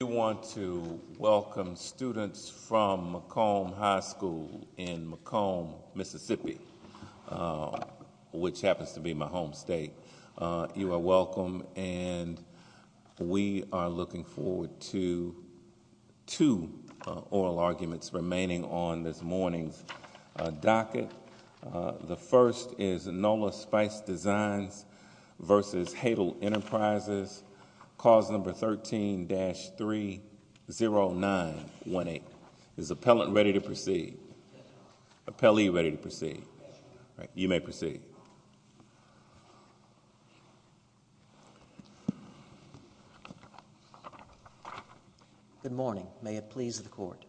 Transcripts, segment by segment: We want to welcome students from Macomb High School in Macomb, Mississippi, which happens to be my home state. You are welcome, and we are looking forward to two oral arguments remaining on this morning's docket. The first is Nola Spice Designs v. Haydel Enterprises, clause number 13-30918. Is the appellant ready to proceed? Appellee ready to proceed? You may proceed. Good morning. May it please the Court,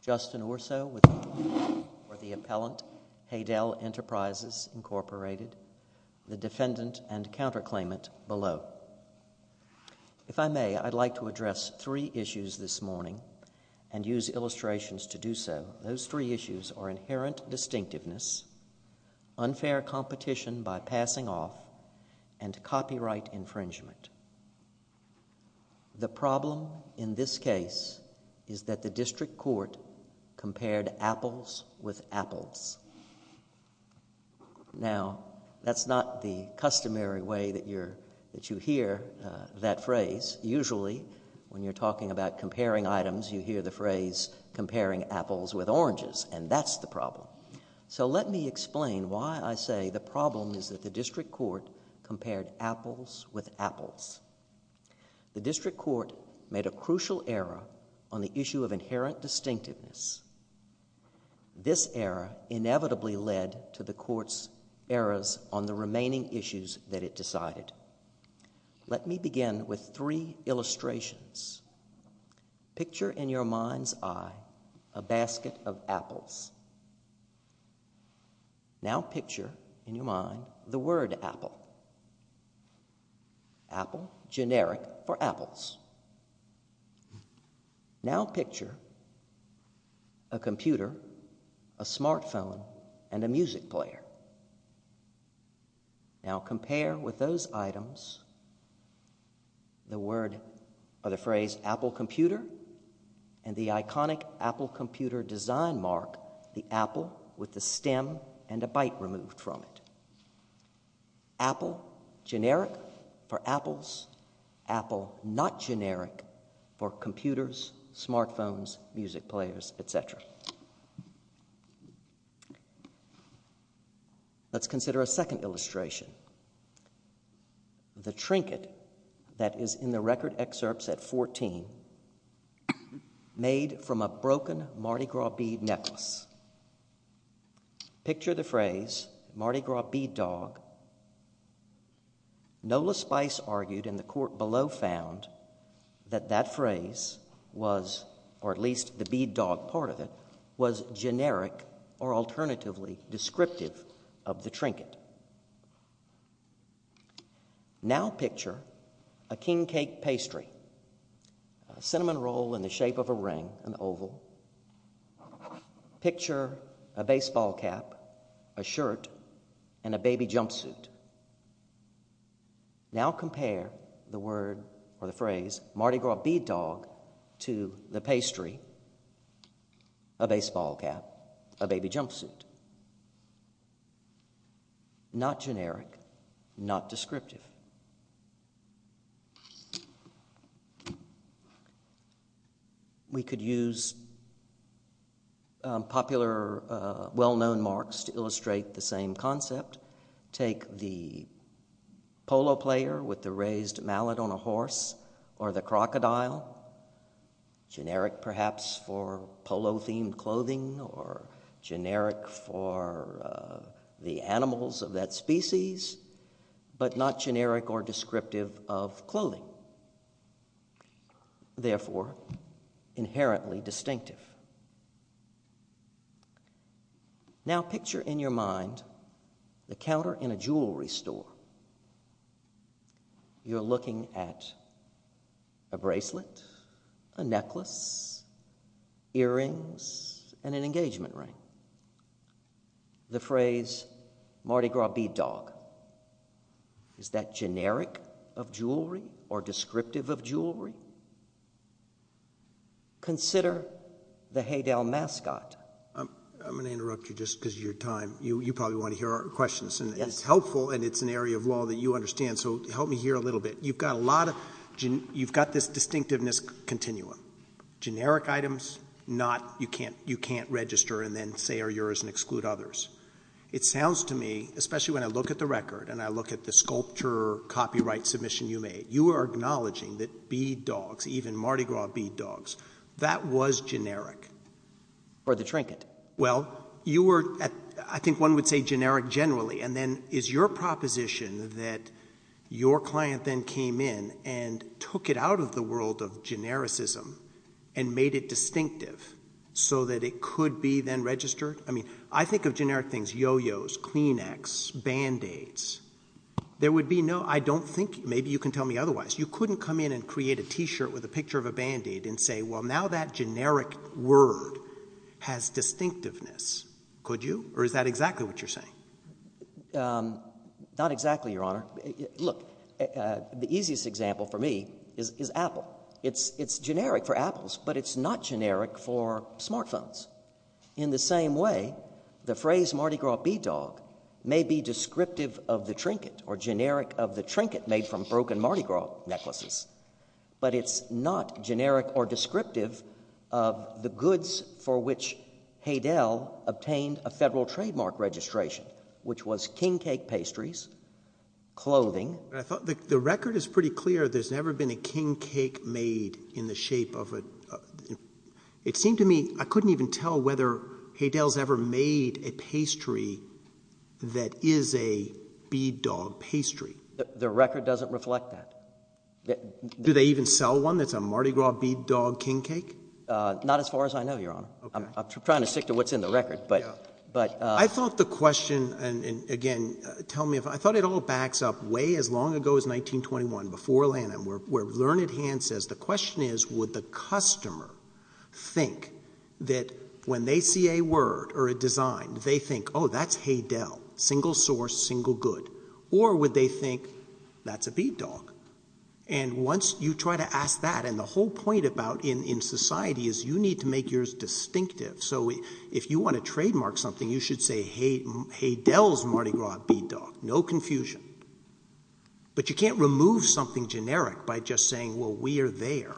Justin Urso with Nola, or the appellant, Haydel Enterprises Inc., the defendant and counterclaimant below. If I may, I'd like to address three issues this morning and use illustrations to do so. Those three issues are inherent distinctiveness, unfair competition by passing off, and copyright infringement. The problem in this case is that the district court compared apples with apples. Now, that's not the customary way that you hear that phrase. Usually, when you're talking about comparing items, you hear the phrase comparing apples with oranges, and that's the problem. So let me explain why I say the problem is that the district court compared apples with apples. The district court made a crucial error on the issue of inherent distinctiveness. This error inevitably led to the court's errors on the remaining issues that it decided. Let me begin with three illustrations. Picture in your mind's eye a basket of apples. Now picture in your mind the word apple. Apple, generic for apples. Now picture a computer, a smartphone, and a music player. Now compare with those items the word or the phrase apple computer and the iconic apple computer design mark, the apple with the stem and a bite removed from it. Apple, generic for apples. Apple not generic for computers, smartphones, music players, et cetera. Let's consider a second illustration. The trinket that is in the record excerpts at 14 made from a broken Mardi Gras bead necklace. Picture the phrase Mardi Gras bead dog. Nola Spice argued and the court below found that that phrase was, or at least the bead dog part of it, was generic or alternatively descriptive of the trinket. Now picture a king cake pastry, a cinnamon roll in the shape of a ring, an oval. Picture a baseball cap, a shirt, and a baby jumpsuit. Now compare the word or the phrase Mardi Gras bead dog to the pastry, a baseball cap, a baby jumpsuit. Not generic, not descriptive. We could use popular well-known marks to illustrate the same concept. Take the polo player with the raised mallet on a horse or the crocodile, generic perhaps for polo-themed clothing or generic for the animals of that species, but not generic or descriptive of clothing, therefore inherently distinctive. Now, picture in your mind the counter in a jewelry store. You're looking at a bracelet, a necklace, earrings, and an engagement ring. The phrase Mardi Gras bead dog, is that generic of jewelry or descriptive of jewelry? Consider the Haydell mascot. I'm going to interrupt you just because of your time. You probably want to hear our questions and it's helpful and it's an area of law that you understand, so help me hear a little bit. You've got a lot of, you've got this distinctiveness continuum. Generic items, not you can't register and then say are yours and exclude others. It sounds to me, especially when I look at the record and I look at the sculpture or acknowledging that bead dogs, even Mardi Gras bead dogs, that was generic. Or the trinket. Well, you were at, I think one would say generic generally, and then is your proposition that your client then came in and took it out of the world of genericism and made it distinctive so that it could be then registered? I mean, I think of generic things, yo-yos, Kleenex, Band-Aids. There would be no, I don't think, maybe you can tell me otherwise. You couldn't come in and create a t-shirt with a picture of a Band-Aid and say, well, now that generic word has distinctiveness. Could you? Or is that exactly what you're saying? Not exactly, Your Honor. Look, the easiest example for me is Apple. It's generic for Apples, but it's not generic for smartphones. In the same way, the phrase Mardi Gras bead dog may be descriptive of the trinket or generic of the trinket made from broken Mardi Gras necklaces. But it's not generic or descriptive of the goods for which Haydel obtained a federal trademark registration, which was king cake pastries, clothing. I thought the record is pretty clear. There's never been a king cake made in the shape of a, it seemed to me, I couldn't even tell whether Haydel's ever made a pastry that is a bead dog pastry. The record doesn't reflect that. Do they even sell one that's a Mardi Gras bead dog king cake? Not as far as I know, Your Honor. I'm trying to stick to what's in the record, but. I thought the question, and again, tell me if, I thought it all backs up way as long ago as 1921, before Lanham, where Learned Hand says, the question is, would the customer think that when they see a word or a design, they think, that's Haydel, single source, single good, or would they think, that's a bead dog? And once you try to ask that, and the whole point about, in society, is you need to make yours distinctive. So if you want to trademark something, you should say, Haydel's Mardi Gras bead dog, no confusion. But you can't remove something generic by just saying, well, we are there.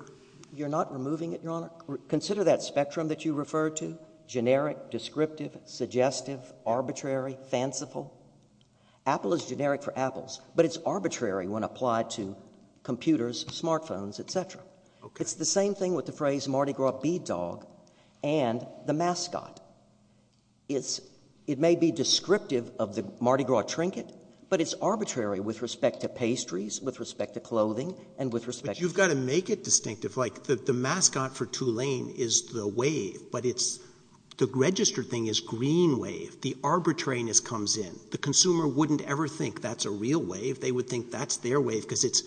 You're not removing it, Your Honor. Consider that spectrum that you referred to, generic, descriptive, suggestive, arbitrary, fanciful. Apple is generic for apples, but it's arbitrary when applied to computers, smartphones, etc. It's the same thing with the phrase Mardi Gras bead dog and the mascot. It may be descriptive of the Mardi Gras trinket, but it's arbitrary with respect to pastries, with respect to clothing, and with respect to- But you've got to make it distinctive. Like the mascot for Tulane is the wave, but the registered thing is green wave. The arbitrariness comes in. The consumer wouldn't ever think that's a real wave. They would think that's their wave because it's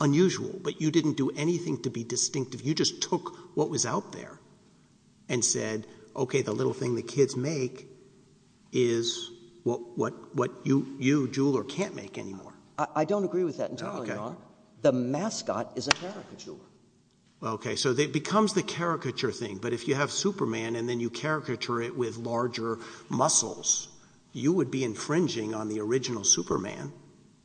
unusual. But you didn't do anything to be distinctive. You just took what was out there and said, okay, the little thing the kids make is what you, jeweler, can't make anymore. I don't agree with that entirely, Your Honor. The mascot is a caricature. Okay, so it becomes the caricature thing. But if you have Superman and then you caricature it with larger muscles, you would be infringing on the original Superman.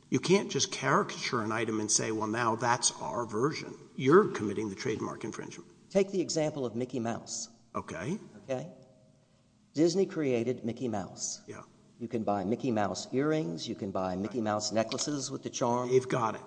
You can't just caricature an item and say, well, now that's our version. You're committing the trademark infringement. Take the example of Mickey Mouse. Okay. Okay? Disney created Mickey Mouse. Yeah. You can buy Mickey Mouse earrings. You can buy Mickey Mouse necklaces with the charm. They've got it.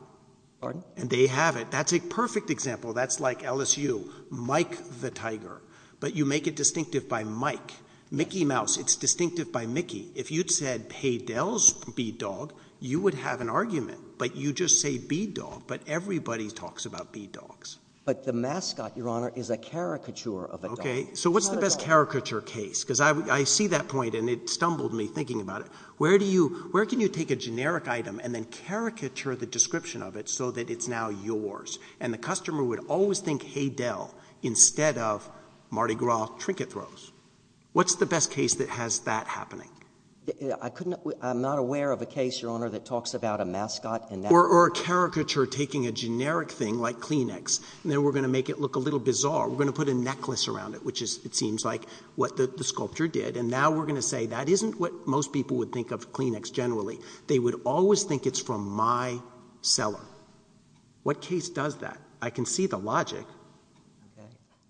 Pardon? And they have it. That's a perfect example. That's like LSU. Mike the Tiger. But you make it distinctive by Mike. Mickey Mouse, it's distinctive by Mickey. If you'd said, hey, Dell's B-Dog, you would have an argument. But you just say B-Dog, but everybody talks about B-Dogs. But the mascot, Your Honor, is a caricature of a dog. Okay. So what's the best caricature case? Because I see that point and it stumbled me thinking about it. Where do you, where can you take a generic item and then caricature the description of it so that it's now yours? And the customer would always think, hey, Dell, instead of Mardi Gras trinket throws. What's the best case that has that happening? I couldn't, I'm not aware of a case, Your Honor, that talks about a mascot and that. Or a caricature taking a generic thing like Kleenex, and then we're going to make it look a little bizarre. We're going to put a necklace around it, which is, it seems like, what the sculpture did. And now we're going to say, that isn't what most people would think of Kleenex generally. They would always think it's from my cellar. What case does that? I can see the logic.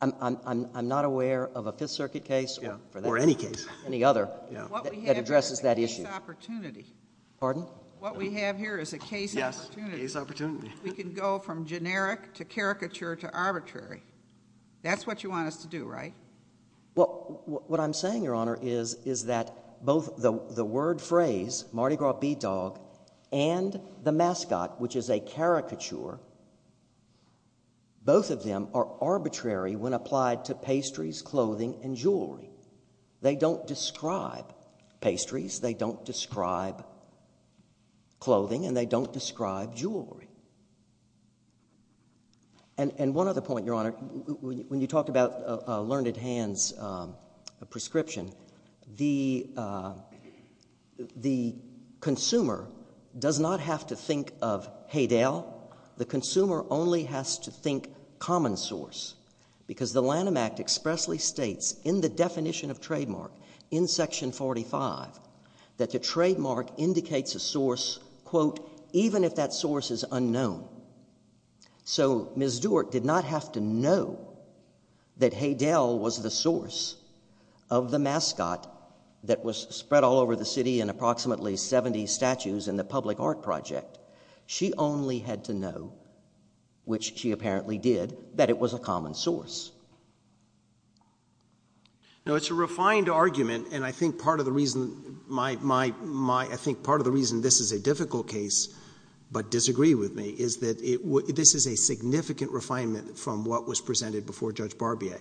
I'm, I'm, I'm not aware of a Fifth Circuit case. Yeah. Or any case. Any other. Yeah. That addresses that issue. What we have here is a case opportunity. Pardon? What we have here is a case opportunity. Yes, case opportunity. We can go from generic to caricature to arbitrary. That's what you want us to do, right? Well, what I'm saying, Your Honor, is, is that both the, the word phrase, Mardi Gras B-Dog, and the mascot, which is a caricature. Both of them are arbitrary when applied to pastries, clothing, and jewelry. They don't describe pastries, they don't describe clothing, and they don't describe jewelry. And, and one other point, Your Honor, when, when you talked about Learned Hand's prescription, the, the consumer does not have to think of Haydale. The consumer only has to think common source. Because the Lanham Act expressly states in the definition of trademark, in section 45, that the trademark indicates a source, quote, even if that source is unknown. So, Ms. Doerr did not have to know that Haydale was the source of the mascot that was spread all over the city in approximately 70 statues in the public art project. She only had to know, which she apparently did, that it was a common source. Now it's a refined argument, and I think part of the reason my, my, my, I think part of the reason this is a difficult case, but disagree with me, is that it, this is a significant refinement from what was presented before Judge Barbier.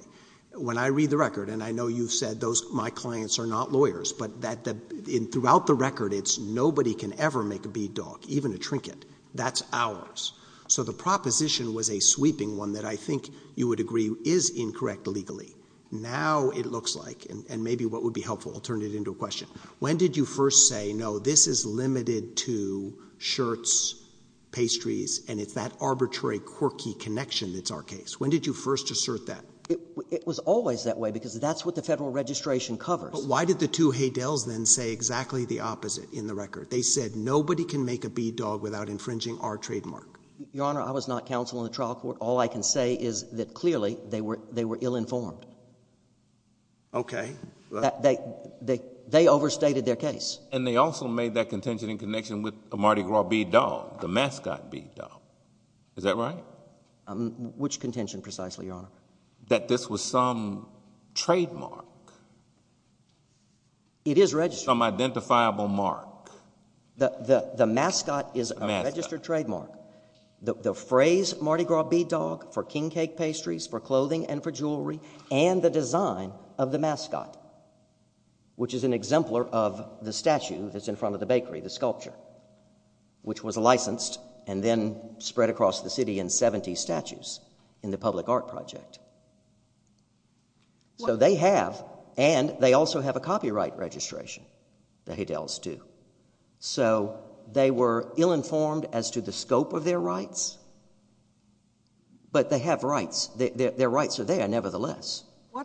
When I read the record, and I know you've said those, my clients are not lawyers, but that the, in, throughout the record, it's nobody can ever make a bead dog, even a trinket, that's ours. So the proposition was a sweeping one that I think you would agree is incorrect legally. Now it looks like, and, and maybe what would be helpful, I'll turn it into a question. When did you first say, no, this is limited to shirts, pastries, and it's that arbitrary quirky connection that's our case? When did you first assert that? It, it was always that way, because that's what the federal registration covers. But why did the two Haydels then say exactly the opposite in the record? They said nobody can make a bead dog without infringing our trademark. Your Honor, I was not counsel in the trial court. All I can say is that clearly they were, they were ill-informed. Okay. That, they, they, they overstated their case. And they also made that contention in connection with a Mardi Gras bead dog, the mascot bead dog. Is that right? Which contention precisely, Your Honor? That this was some trademark. It is registered. Some identifiable mark. The, the, the mascot is a registered trademark. The, the phrase Mardi Gras bead dog for king cake pastries, for clothing, and for jewelry, and the design of the mascot, which is an exemplar of the statue that's in front of the bakery, the sculpture, which was licensed and then spread across the city in 70 statues in the public art project. So they have, and they also have a copyright registration. The Haydels do. So they were ill-informed as to the scope of their rights. But they have rights. Their, their, their rights are there nevertheless.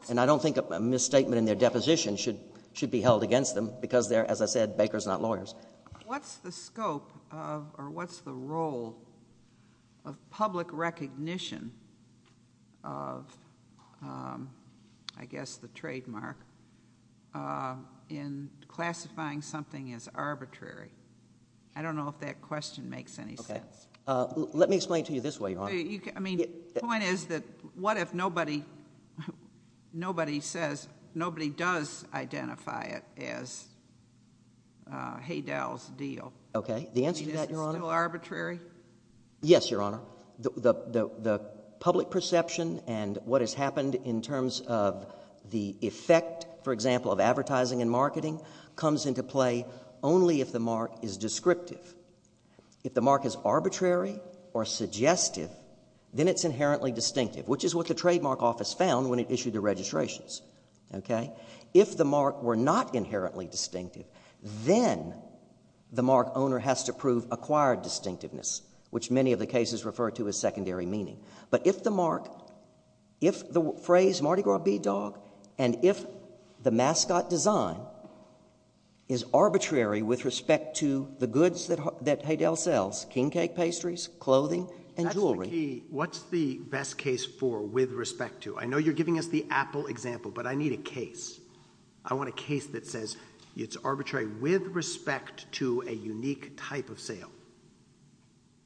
And I don't think a misstatement in their deposition should, should be held against them because they're, as I said, bakers, not lawyers. What's the scope of, or what's the role of public recognition of I guess the trademark in classifying something as arbitrary? I don't know if that question makes any sense. Let me explain to you this way, Your Honor. I mean, the point is that what if nobody, nobody says, nobody does identify it as Haydel's deal. Okay. The answer to that, Your Honor. Is it still arbitrary? Yes, Your Honor. The, the, the public perception and what has happened in terms of the effect, for example, of advertising and marketing comes into play only if the mark is descriptive. If the mark is arbitrary or suggestive, then it's inherently distinctive, which is what the trademark office found when it issued the registrations. Okay. If the mark were not inherently distinctive, then the mark owner has to prove acquired distinctiveness, which many of the cases refer to as secondary meaning. But if the mark, if the phrase Mardi Gras Bee Dog, and if the mascot design is arbitrary with respect to the goods that, that Haydel sells, king cake pastries, clothing, and jewelry. Okay. What's the best case for, with respect to? I know you're giving us the Apple example, but I need a case. I want a case that says it's arbitrary with respect to a unique type of sale.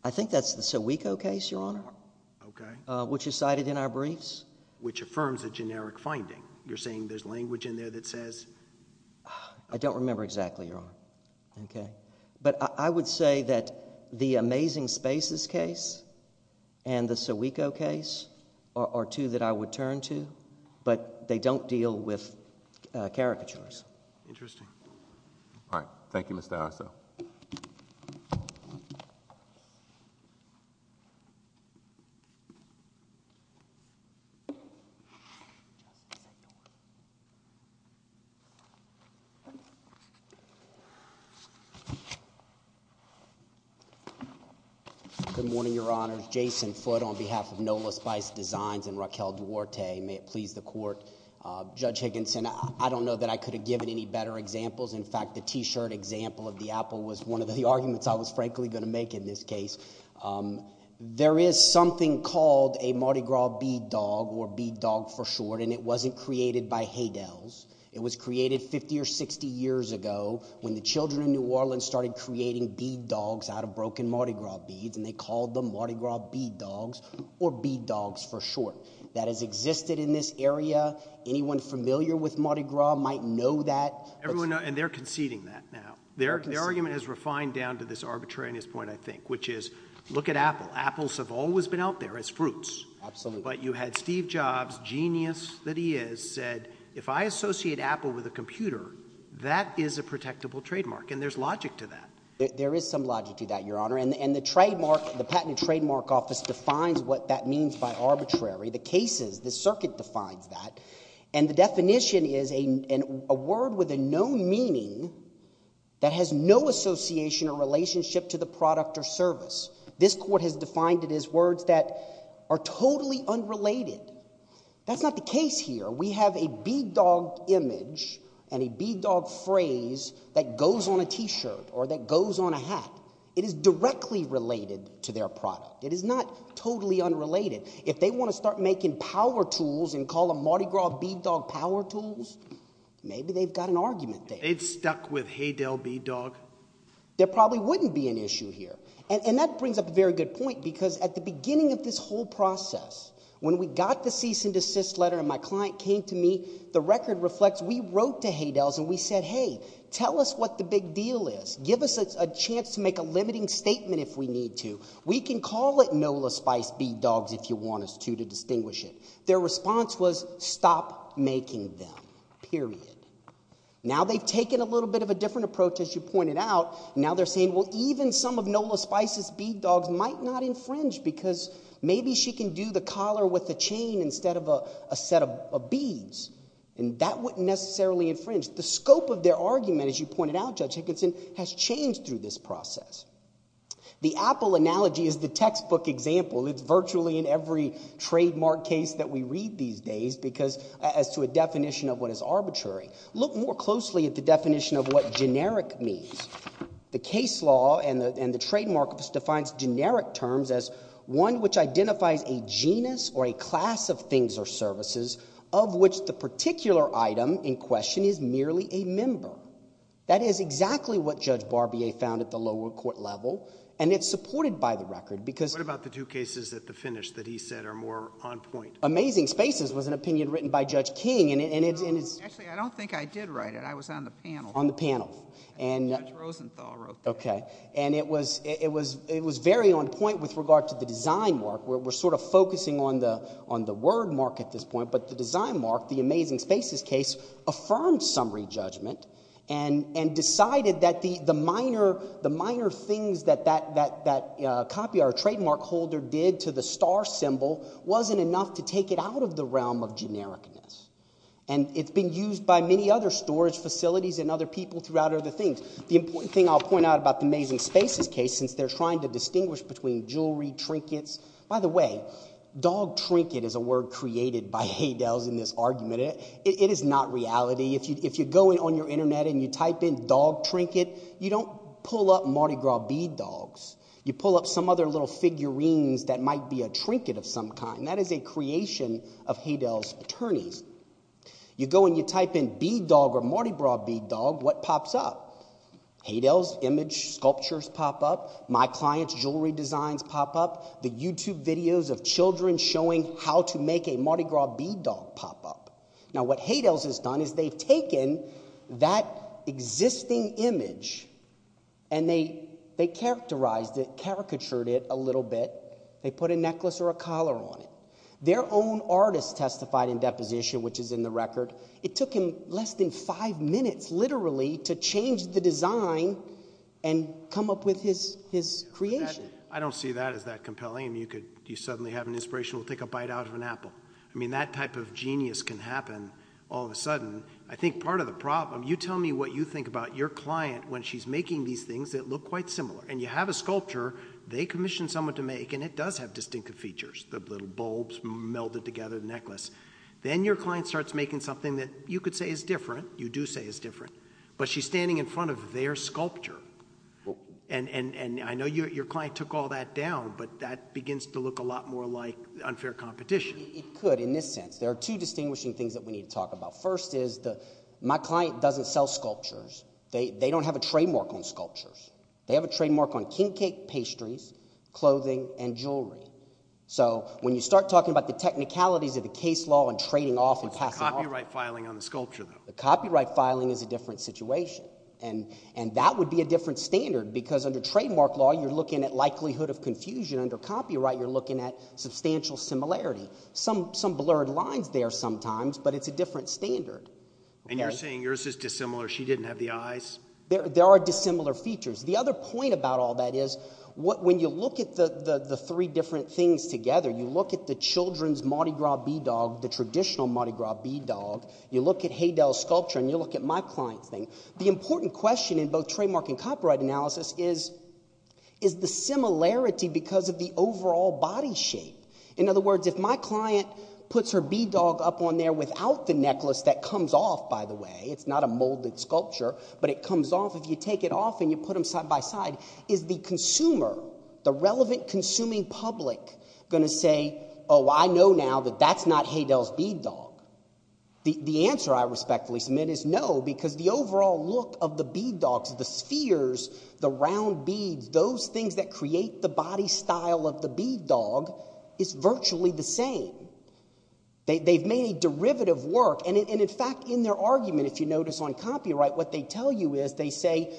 I think that's the Sawicko case, Your Honor. Okay. Which is cited in our briefs. Which affirms a generic finding. You're saying there's language in there that says. I don't remember exactly, Your Honor. Okay. But I would say that the Amazing Spaces case and the Sawicko case are two that I would turn to. But they don't deal with caricatures. Interesting. All right. Thank you, Mr. Arso. Good morning, Your Honor. Jason Foote on behalf of Nola Spice Designs and Raquel Duarte. May it please the court. Judge Higginson, I don't know that I could have given any better examples. In fact, the t-shirt example of the apple was one of the arguments I was frankly going to make in this case. There is something called a Mardi Gras Bee Dog, or Bee Dog for short, and it wasn't created by Haydels. It was created 50 or 60 years ago when the children in New Orleans started creating bead dogs out of broken Mardi Gras beads. And they called them Mardi Gras Bee Dogs, or Bee Dogs for short. That has existed in this area. Anyone familiar with Mardi Gras might know that. Everyone knows, and they're conceding that now. Their argument is refined down to this arbitrariness point, I think. Which is, look at apple. Apples have always been out there as fruits. Absolutely. But you had Steve Jobs, genius that he is, said, if I associate apple with a computer, that is a protectable trademark. And there's logic to that. There is some logic to that, your honor. And the trademark, the Patent and Trademark Office defines what that means by arbitrary. The cases, the circuit defines that. And the definition is a word with a known meaning that has no association or relationship to the product or service. This court has defined it as words that are totally unrelated. That's not the case here. We have a Bee Dog image and a Bee Dog phrase that goes on a t-shirt or that goes on a hat. It is directly related to their product. It is not totally unrelated. If they want to start making power tools and call them Mardi Gras Bee Dog power tools, maybe they've got an argument there. They'd stuck with Haydale Bee Dog. There probably wouldn't be an issue here. And that brings up a very good point, because at the beginning of this whole process, when we got the cease and desist letter and my client came to me, the record reflects we wrote to Haydale's and we said, hey, tell us what the big deal is. Give us a chance to make a limiting statement if we need to. We can call it Nola Spice Bee Dogs if you want us to, to distinguish it. Their response was, stop making them, period. Now they've taken a little bit of a different approach, as you pointed out. Now they're saying, well, even some of Nola Spice's Bee Dogs might not infringe, because maybe she can do the collar with a chain instead of a set of beads. And that wouldn't necessarily infringe. The scope of their argument, as you pointed out, Judge Hickinson, has changed through this process. The Apple analogy is the textbook example. It's virtually in every trademark case that we read these days, because as to a definition of what is arbitrary. Look more closely at the definition of what generic means. The case law and the trademark defines generic terms as one which identifies a genus or a class of things or services of which the particular item in question is merely a member. That is exactly what Judge Barbier found at the lower court level. And it's supported by the record, because- What about the two cases at the finish that he said are more on point? Amazing Spaces was an opinion written by Judge King, and it's- Actually, I don't think I did write it. I was on the panel. On the panel. And- Judge Rosenthal wrote that. Okay. And it was very on point with regard to the design mark. We're sort of focusing on the word mark at this point. But the design mark, the Amazing Spaces case, affirmed summary judgment and decided that the minor things that that copy or trademark holder did to the star symbol wasn't enough to take it out of the realm of genericness. And it's been used by many other storage facilities and other people throughout other things. The important thing I'll point out about the Amazing Spaces case, since they're trying to distinguish between jewelry, trinkets- By the way, dog trinket is a word created by Haydell's in this argument. It is not reality. If you go on your internet and you type in dog trinket, you don't pull up Mardi Gras bead dogs. You pull up some other little figurines that might be a trinket of some kind. That is a creation of Haydell's attorneys. You go and you type in bead dog or Mardi Gras bead dog, what pops up? Haydell's image sculptures pop up. My client's jewelry designs pop up. The YouTube videos of children showing how to make a Mardi Gras bead dog pop up. Now what Haydell's has done is they've taken that existing image and they characterized it, caricatured it a little bit. They put a necklace or a collar on it. Their own artist testified in deposition, which is in the record. It took him less than five minutes, literally, to change the design and come up with his creation. I don't see that as that compelling. You could suddenly have an inspirational take a bite out of an apple. I mean that type of genius can happen all of a sudden. I think part of the problem, you tell me what you think about your client when she's making these things that look quite similar. And you have a sculpture they commissioned someone to make and it does have distinctive features. The little bulbs melded together the necklace. Then your client starts making something that you could say is different. You do say is different, but she's standing in front of their sculpture. And I know your client took all that down, but that begins to look a lot more like unfair competition. It could in this sense. There are two distinguishing things that we need to talk about. They don't have a trademark on sculptures. They have a trademark on king cake pastries, clothing, and jewelry. So when you start talking about the technicalities of the case law and trading off and passing off. It's the copyright filing on the sculpture though. The copyright filing is a different situation. And that would be a different standard because under trademark law you're looking at likelihood of confusion. Under copyright you're looking at substantial similarity. Some blurred lines there sometimes, but it's a different standard. And you're saying yours is dissimilar. She didn't have the eyes. There are dissimilar features. The other point about all that is, when you look at the three different things together, you look at the children's Mardi Gras b-dog, the traditional Mardi Gras b-dog. You look at Haydel's sculpture and you look at my client's thing. The important question in both trademark and copyright analysis is, is the similarity because of the overall body shape. In other words, if my client puts her b-dog up on there without the necklace that comes off by the way, it's not a molded sculpture, but it comes off. If you take it off and you put them side by side, is the consumer, the relevant consuming public going to say, oh, I know now that that's not Haydel's b-dog. The answer I respectfully submit is no, because the overall look of the b-dogs, the spheres, the round beads, those things that create the body style of the b-dog is virtually the same. They've made a derivative work. In fact, in their argument, if you notice on copyright, what they tell you is they say,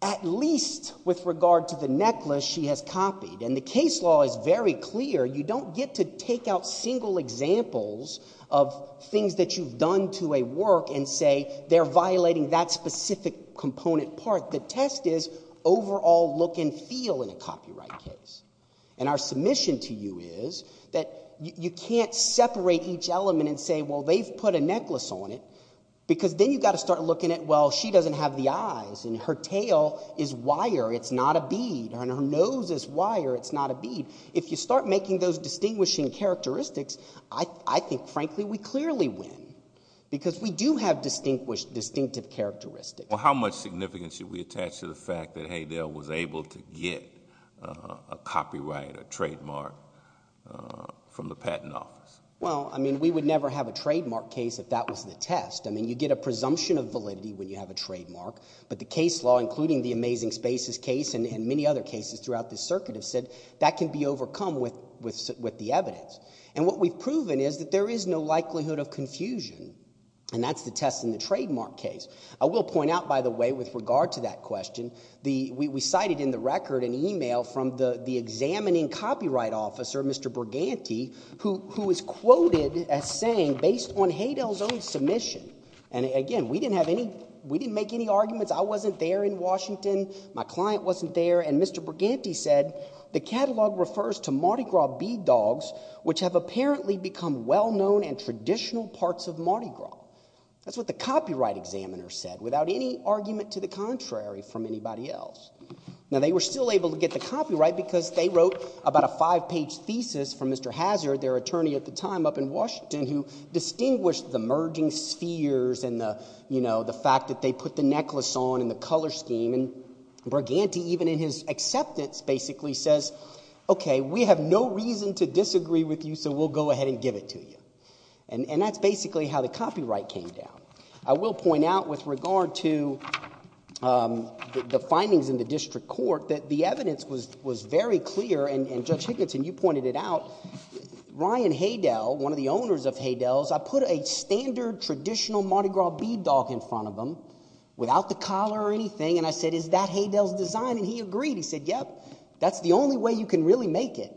at least with regard to the necklace, she has copied. The case law is very clear. You don't get to take out single examples of things that you've done to a work and say, they're violating that specific component part. The test is overall look and feel in a copyright case. Our submission to you is that you can't separate each element and say, well, they've put a necklace on it, because then you've got to start looking at, well, she doesn't have the eyes and her tail is wire. It's not a bead. Her nose is wire. It's not a bead. If you start making those distinguishing characteristics, I think, frankly, we clearly win, because we do have distinctive characteristics. How much significance should we attach to the fact that Haydel was able to get a copyright, a trademark from the patent office? Well, I mean, we would never have a trademark case if that was the test. I mean, you get a presumption of validity when you have a trademark, but the case law, including the Amazing Spaces case and many other cases throughout the circuit have said that can be overcome with the evidence. And what we've proven is that there is no likelihood of confusion, and that's the test in the trademark case. I will point out, by the way, with regard to that question, we cited in the record an email from the examining copyright officer, Mr. Briganti, who is quoted as saying, based on Haydel's own submission, and again, we didn't make any arguments. I wasn't there in Washington. My client wasn't there. And Mr. Briganti said, the catalog refers to Mardi Gras bead dogs, which have apparently become well-known and traditional parts of Mardi Gras. That's what the copyright examiner said, without any argument to the contrary from anybody else. Now, they were still able to get the copyright, because they wrote about a five-page thesis from Mr. Hazard, their attorney at the time up in Washington, who distinguished the merging spheres and the fact that they put the necklace on and the color scheme. And Briganti, even in his acceptance, basically says, okay, we have no reason to disagree with you, so we'll go ahead and give it to you. And that's basically how the copyright came down. I will point out, with regard to the findings in the district court, that the evidence was very clear. And Judge Higginson, you pointed it out. Ryan Haydell, one of the owners of Haydell's, I put a standard, traditional Mardi Gras bead dog in front of him, without the collar or anything. And I said, is that Haydell's design? And he agreed. He said, yep, that's the only way you can really make it.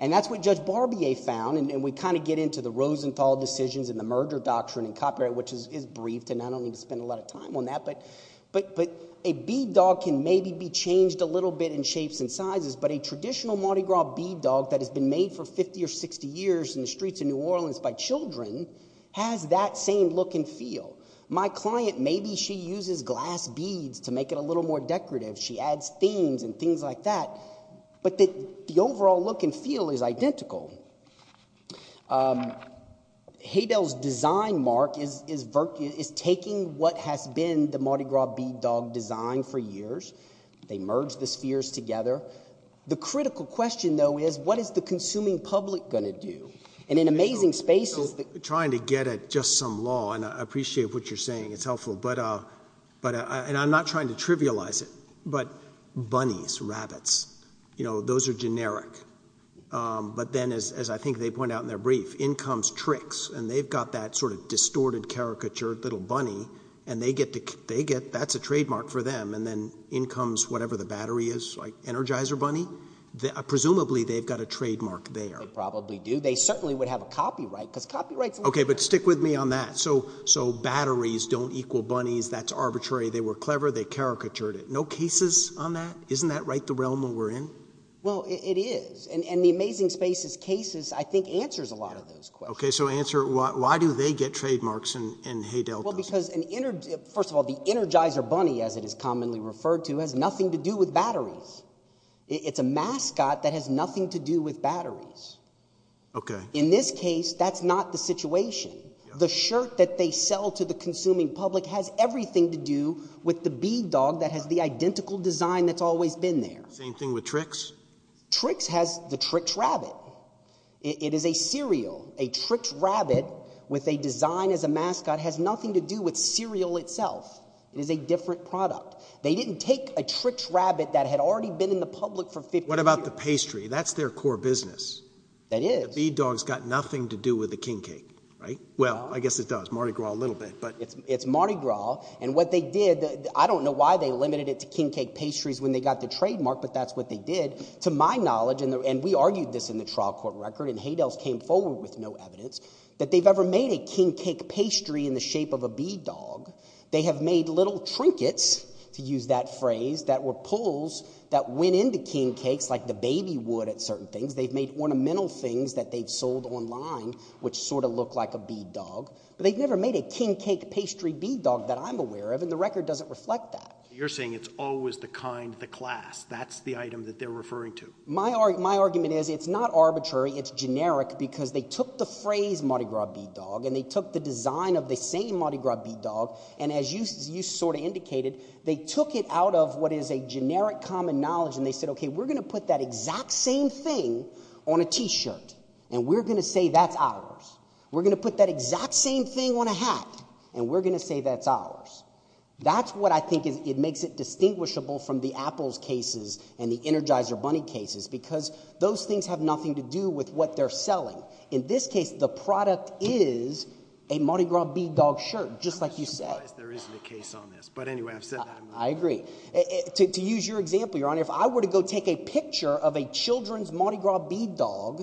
And that's what Judge Barbier found. And we kind of get into the Rosenthal decisions and the merger doctrine and copyright, which is brief, and I don't need to spend a lot of time on that. But a bead dog can maybe be changed a little bit in shapes and sizes, but a traditional Mardi Gras bead dog that has been made for 50 or 60 years in the streets of New Orleans by children has that same look and feel. My client, maybe she uses glass beads to make it a little more decorative. She adds themes and things like that. But the overall look and feel is identical. Haydell's design, Mark, is taking what has been the Mardi Gras bead dog design for years. They merged the spheres together. The critical question, though, is what is the consuming public going to do? And in amazing spaces... You know, we're trying to get at just some law, and I appreciate what you're saying. It's helpful. But, and I'm not trying to trivialize it, but bunnies, rabbits, you know, those are generic. But then, as I think they point out in their brief, in comes tricks. And they've got that sort of distorted, caricatured little bunny. And they get, that's a trademark for them. And then in comes whatever the battery is, like Energizer Bunny. Presumably, they've got a trademark there. They probably do. They certainly would have a copyright, because copyrights... Okay, but stick with me on that. So batteries don't equal bunnies. That's arbitrary. They were clever. They caricatured it. No cases on that? Isn't that right, the realm that we're in? Well, it is. And the Amazing Spaces cases, I think, answers a lot of those questions. Okay, so answer, why do they get trademarks in Hay Delta? Well, because, first of all, the Energizer Bunny, as it is commonly referred to, has nothing to do with batteries. It's a mascot that has nothing to do with batteries. Okay. In this case, that's not the situation. The shirt that they sell to the consuming public has everything to do with the bee dog that has the identical design that's always been there. Same thing with Trix? Trix has the Trix Rabbit. It is a cereal. A Trix Rabbit with a design as a mascot has nothing to do with cereal itself. It is a different product. They didn't take a Trix Rabbit that had already been in the public for 50 years. What about the pastry? That's their core business. That is. The bee dog's got nothing to do with the King Cake, right? Well, I guess it does. Mardi Gras a little bit, but... It's Mardi Gras. And what they did, I don't know why they limited it to King Cake pastries when they got the trademark, but that's what they did. To my knowledge, and we argued this in the trial court record, and Haydell's came forward with no evidence, that they've ever made a King Cake pastry in the shape of a bee dog. They have made little trinkets, to use that phrase, that were pulls that went into King Cakes, like the baby would at certain things. They've made ornamental things that they've sold online, which sort of look like a bee dog. But they've never made a King Cake pastry bee dog that I'm aware of, and the record doesn't reflect that. You're saying it's always the kind, the class, that's the item that they're referring to. My argument is it's not arbitrary, it's generic, because they took the phrase Mardi Gras bee dog, and they took the design of the same Mardi Gras bee dog, and as you sort of indicated, they took it out of what is a generic common knowledge, and they said, okay, we're going to put that exact same thing on a t-shirt, and we're going to say that's ours. We're going to put that exact same thing on a hat, and we're going to say that's ours. That's what I think makes it distinguishable from the apples cases and the Energizer bunny cases, because those things have nothing to do with what they're selling. In this case, the product is a Mardi Gras bee dog shirt, just like you said. I'm just surprised there isn't a case on this. But anyway, I've said that. I agree. To use your example, Your Honor, if I were to go take a picture of a children's Mardi Gras bee dog,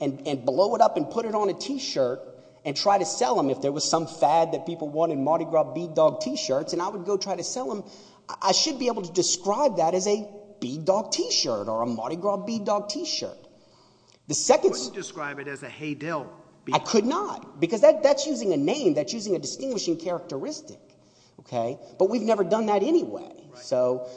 and blow it up and put it on a t-shirt, and try to sell them if there was some fad that people wanted Mardi Gras bee dog t-shirts, and I would go try to sell them, I should be able to describe that as a bee dog t-shirt or a Mardi Gras bee dog t-shirt. The second... You couldn't describe it as a Hay-Dill bee dog. I could not, because that's using a name, that's using a distinguishing characteristic, okay? But we've never done that anyway. So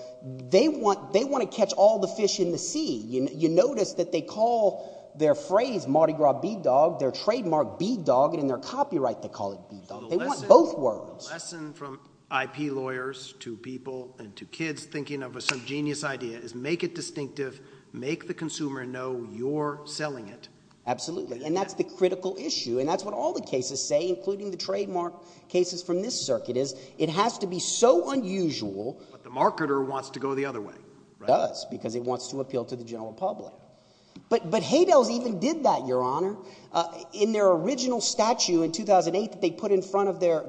they want to catch all the fish in the sea. You notice that they call their phrase Mardi Gras bee dog, their trademark bee dog, and in their copyright, they call it bee dog. They want both words. The lesson from IP lawyers to people and to kids thinking of a subgenius idea is make it distinctive, make the consumer know you're selling it. Absolutely. And that's the critical issue. And that's what all the cases say, including the trademark cases from this circuit, is it has to be so unusual... But the marketer wants to go the other way, right? Does, because it wants to appeal to the general public. But Hay-Dills even did that, Your Honor, in their original statue in 2008 that they put in front of their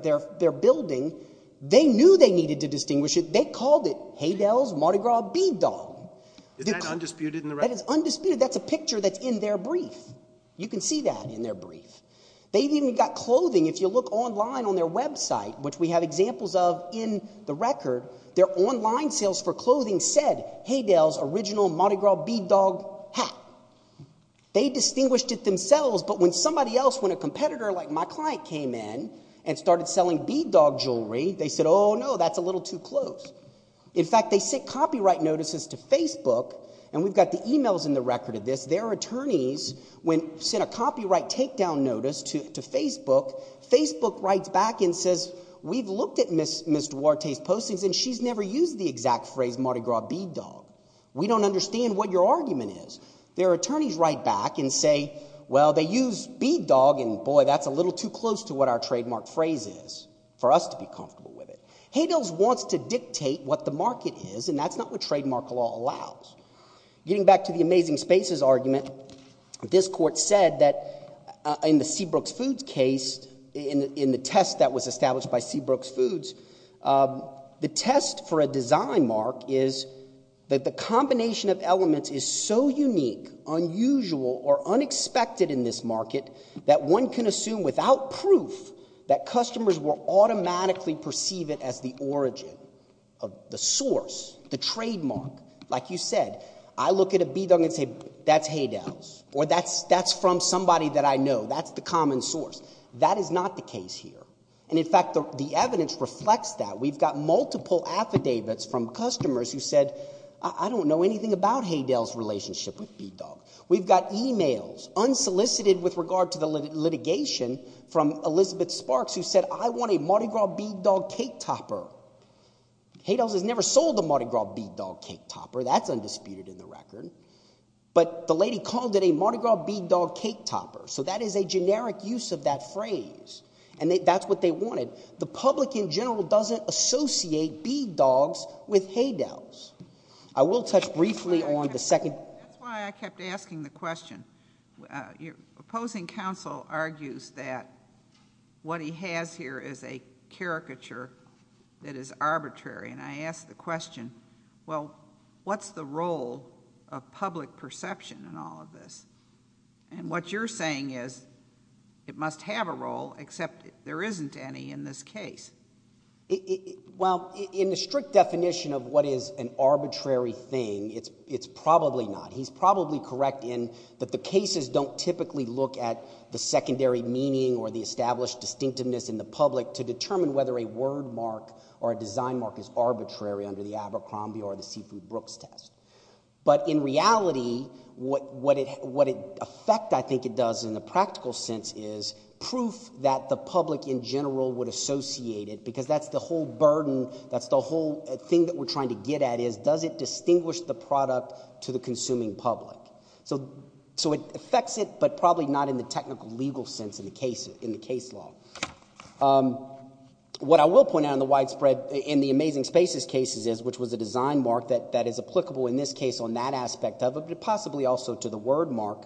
building. They knew they needed to distinguish it. They called it Hay-Dills Mardi Gras bee dog. Is that undisputed in the record? That is undisputed. That's a picture that's in their brief. You can see that in their brief. They've even got clothing. If you look online on their website, which we have examples of in the record, their online sales for clothing said Hay-Dills original Mardi Gras bee dog hat. They distinguished it themselves. But when somebody else, when a competitor like my client came in and started selling bee dog jewelry, they said, oh no, that's a little too close. In fact, they sent copyright notices to Facebook. And we've got the emails in the record of this. Their attorneys, when sent a copyright takedown notice to Facebook, Facebook writes back and says, we've looked at Ms. Duarte's postings and she's never used the exact phrase Mardi Gras bee dog. We don't understand what your argument is. Their attorneys write back and say, well, they use bee dog and boy, that's a little too close to what our trademark phrase is for us to be comfortable with it. Hay-Dills wants to dictate what the market is and that's not what trademark law allows. Getting back to the amazing spaces argument, this court said that in the Seabrook's Foods case, in the test that was established by Seabrook's Foods, the test for a design mark is that the combination of elements is so unique, unusual or unexpected in this market that one can assume without proof that customers will automatically perceive it as the origin of the source, the trademark. Like you said, I look at a bee dog and say, that's Hay-Dills or that's from somebody that I know. That's the common source. That is not the case here. And in fact, the evidence reflects that. We've got multiple affidavits from customers who said, I don't know anything about Hay-Dills' relationship with bee dog. We've got emails unsolicited with regard to the litigation from Elizabeth Sparks who said, I want a Mardi Gras bee dog cake topper. Hay-Dills has never sold a Mardi Gras bee dog cake topper. That's undisputed in the record, but the lady called it a Mardi Gras bee dog cake topper. So that is a generic use of that phrase and that's what they wanted. The public in general doesn't associate bee dogs with Hay-Dills. I will touch briefly on the second. That's why I kept asking the question. Opposing counsel argues that what he has here is a caricature that is arbitrary. And I asked the question, well, what's the role of public perception in all of this? And what you're saying is it must have a role, except there isn't any in this case. Well, in the strict definition of what is an arbitrary thing, it's probably not. He's probably correct in that the cases don't typically look at the secondary meaning or the established distinctiveness in the public to determine whether a word mark or a design mark is arbitrary under the Abercrombie or the Seafood Brooks test. But in reality, what effect I think it does in the practical sense is proof that the public in general would associate it because that's the whole burden, that's the whole thing that we're trying to get at is does it distinguish the product to the consuming public? So it affects it, but probably not in the technical legal sense in the case law. What I will point out in the widespread, in the Amazing Spaces cases is, which was a design mark that is applicable in this case on that aspect of it, but possibly also to the word mark.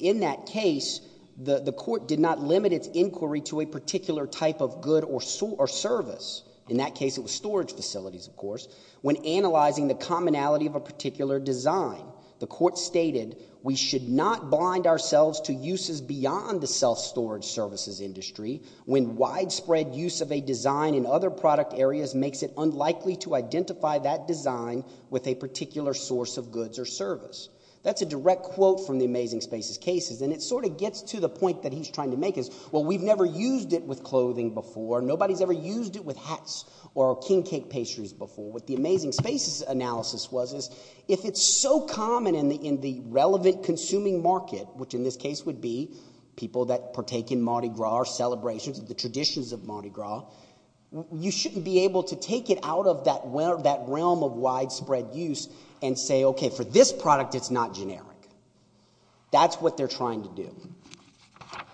In that case, the court did not limit its inquiry to a particular type of good or service. In that case, it was storage facilities, of course. When analyzing the commonality of a particular design, the court stated, we should not bind ourselves to uses beyond the self-storage services industry when widespread use of a design in other product areas makes it unlikely to identify that design with a particular source of goods or service. That's a direct quote from the Amazing Spaces cases, and it sort of gets to the point that he's trying to make is, well, we've never used it with clothing before, nobody's ever used it with hats or king cake pastries before. What the Amazing Spaces analysis was is, if it's so common in the relevant consuming market, which in this case would be people that partake in Mardi Gras celebrations, the traditions of Mardi Gras, you shouldn't be able to take it out of that realm of widespread use and say, okay, for this product, it's not generic. That's what they're trying to do.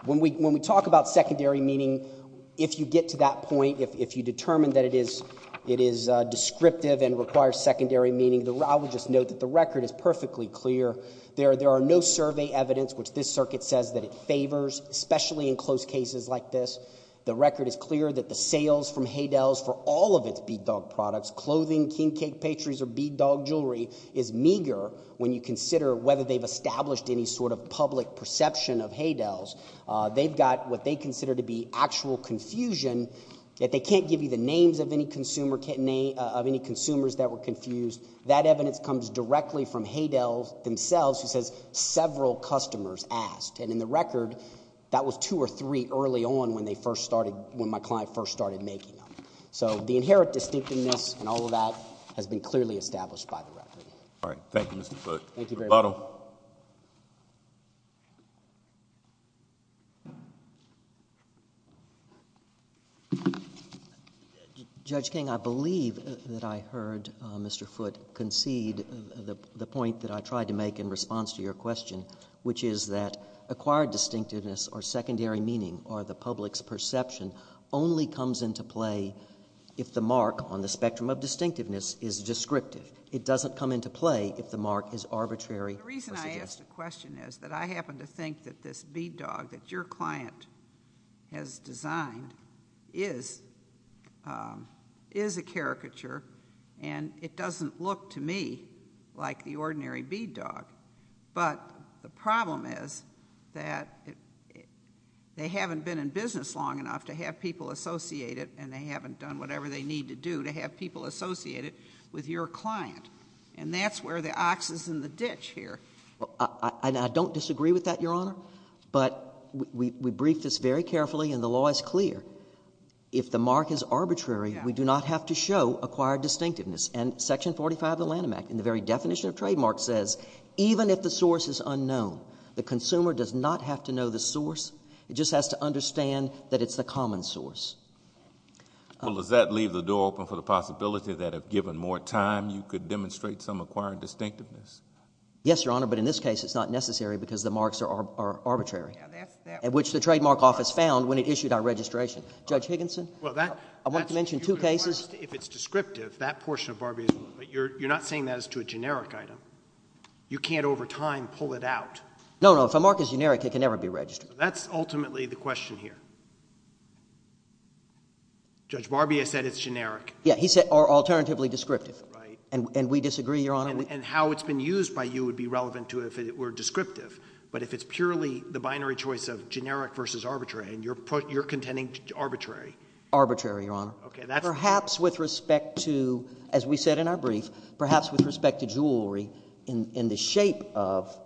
When we talk about secondary meaning, if you get to that point, if you determine that it is descriptive and requires secondary meaning, I would just note that the record is perfectly clear. There are no survey evidence, which this circuit says that it favors, especially in close cases like this. The record is clear that the sales from Haydell's for all of its bead dog products, clothing, king cake pastries, or bead dog jewelry is meager when you consider whether they've established any sort of public perception of Haydell's. They've got what they consider to be actual confusion that they can't give you the names of any consumer, of any consumers that were confused. That evidence comes directly from Haydell's themselves who says several customers asked. And in the record, that was two or three early on when they first started, when my client first started making them. So the inherent distinctiveness and all of that has been clearly established by the record. All right, thank you, Mr. Foote. Thank you very much. Roboto. Judge King, I believe that I heard Mr. Foote concede the point that I tried to make in response to your question, which is that acquired distinctiveness or secondary meaning or the public's perception only comes into play if the mark on the spectrum of distinctiveness is descriptive. It doesn't come into play if the mark is arbitrary. The reason I asked the question is that I happen to think that this bead dog that your client has designed is a caricature and it doesn't look to me like the ordinary bead dog. But the problem is that they haven't been in business long enough to have people associate it and they haven't done whatever they need to do to have people associate it with your client. And that's where the ox is in the ditch here. And I don't disagree with that, Your Honor, but we briefed this very carefully and the law is clear. If the mark is arbitrary, we do not have to show acquired distinctiveness. And Section 45 of the Lanham Act in the very definition of trademark says, even if the source is unknown, the consumer does not have to know the source. It just has to understand that it's the common source. Well, does that leave the door open for the possibility that if given more time, you could demonstrate some acquired distinctiveness? Yes, Your Honor, but in this case, it's not necessary because the marks are arbitrary, which the Trademark Office found when it issued our registration. Judge Higginson, I want to mention two cases. If it's descriptive, that portion of Barbies, but you're not saying that as to a generic item. You can't over time pull it out. No, no, if a mark is generic, it can never be registered. That's ultimately the question here. Judge Barbier said it's generic. Yeah, he said, or alternatively descriptive. Right. And we disagree, Your Honor. And how it's been used by you would be relevant to if it were descriptive. But if it's purely the binary choice of generic versus arbitrary, and you're contending arbitrary. Arbitrary, Your Honor. Okay, that's... Perhaps with respect to, as we said in our brief, perhaps with respect to jewelry, in the shape of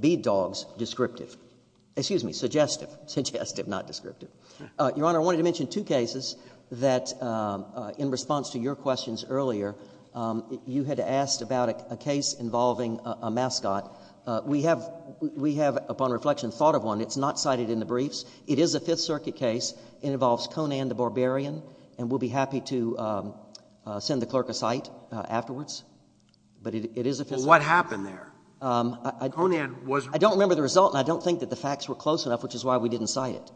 bead dogs, descriptive. Excuse me, suggestive. Suggestive, not descriptive. Your Honor, I wanted to mention two cases that in response to your questions earlier, you had asked about a case involving a mascot. We have, upon reflection, thought of one. It's not cited in the briefs. It is a Fifth Circuit case. It involves Conan the Barbarian, and we'll be happy to send the clerk a cite afterwards. But it is a Fifth Circuit case. What happened there? Conan was... I don't remember the result, and I don't think that the facts were close enough, which is why we didn't cite it.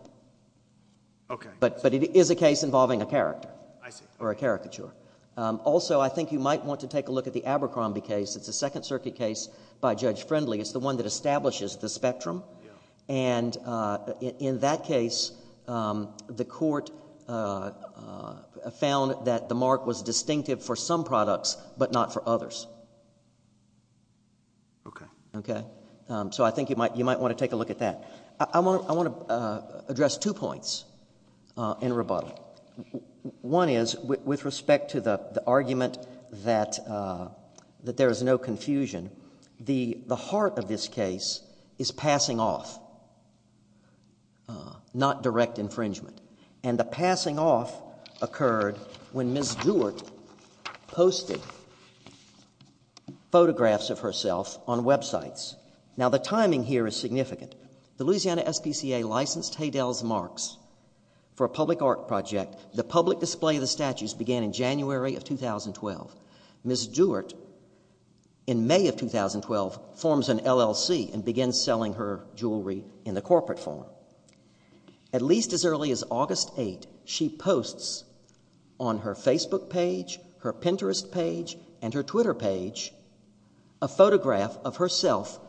Okay. But it is a case involving a character. I see. Or a caricature. Also, I think you might want to take a look at the Abercrombie case. It's a Second Circuit case by Judge Friendly. It's the one that establishes the spectrum, and in that case, the court found that the mark was distinctive for some products, but not for others. Okay. Okay, so I think you might want to take a look at that. I want to address two points in rebuttal. One is, with respect to the argument that there is no confusion, the heart of this case is passing off, not direct infringement. And the passing off occurred when Ms. Stewart posted photographs of herself on websites. Now, the timing here is significant. Louisiana SPCA licensed Haydell's marks for a public art project. The public display of the statues began in January of 2012. Ms. Stewart, in May of 2012, forms an LLC and begins selling her jewelry in the corporate form. At least as early as August 8th, she posts on her Facebook page, her Pinterest page, and her Twitter page, a photograph of herself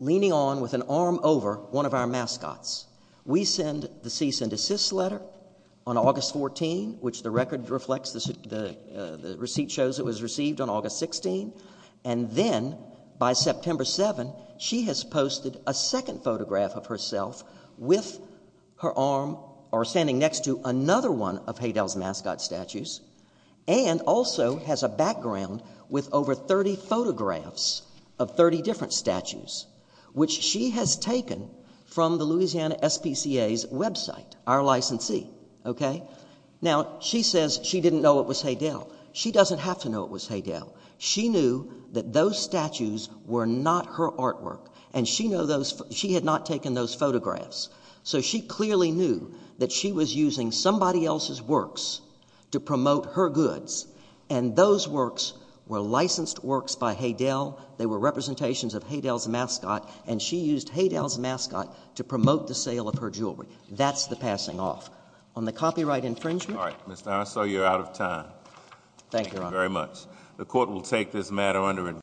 leaning on with an arm over one of our mascots. We send the cease and desist letter on August 14th, which the record reflects the receipt shows it was received on August 16th. And then by September 7th, she has posted a second photograph of herself with her arm or standing next to another one of Haydell's mascot statues, and also has a background with over 30 photographs of 30 different statues, which she has taken from the Louisiana SPCA's website, our licensee, okay? Now, she says she didn't know it was Haydell. She doesn't have to know it was Haydell. She knew that those statues were not her artwork, and she had not taken those photographs. So she clearly knew that she was using somebody else's works to promote her goods, and those works were licensed works by Haydell. They were representations of Haydell's mascot, and she used Haydell's mascot to promote the sale of her jewelry. That's the passing off. On the copyright infringement. All right, Mr. Arnasol, you're out of time. Thank you very much. The court will take this matter under investigation.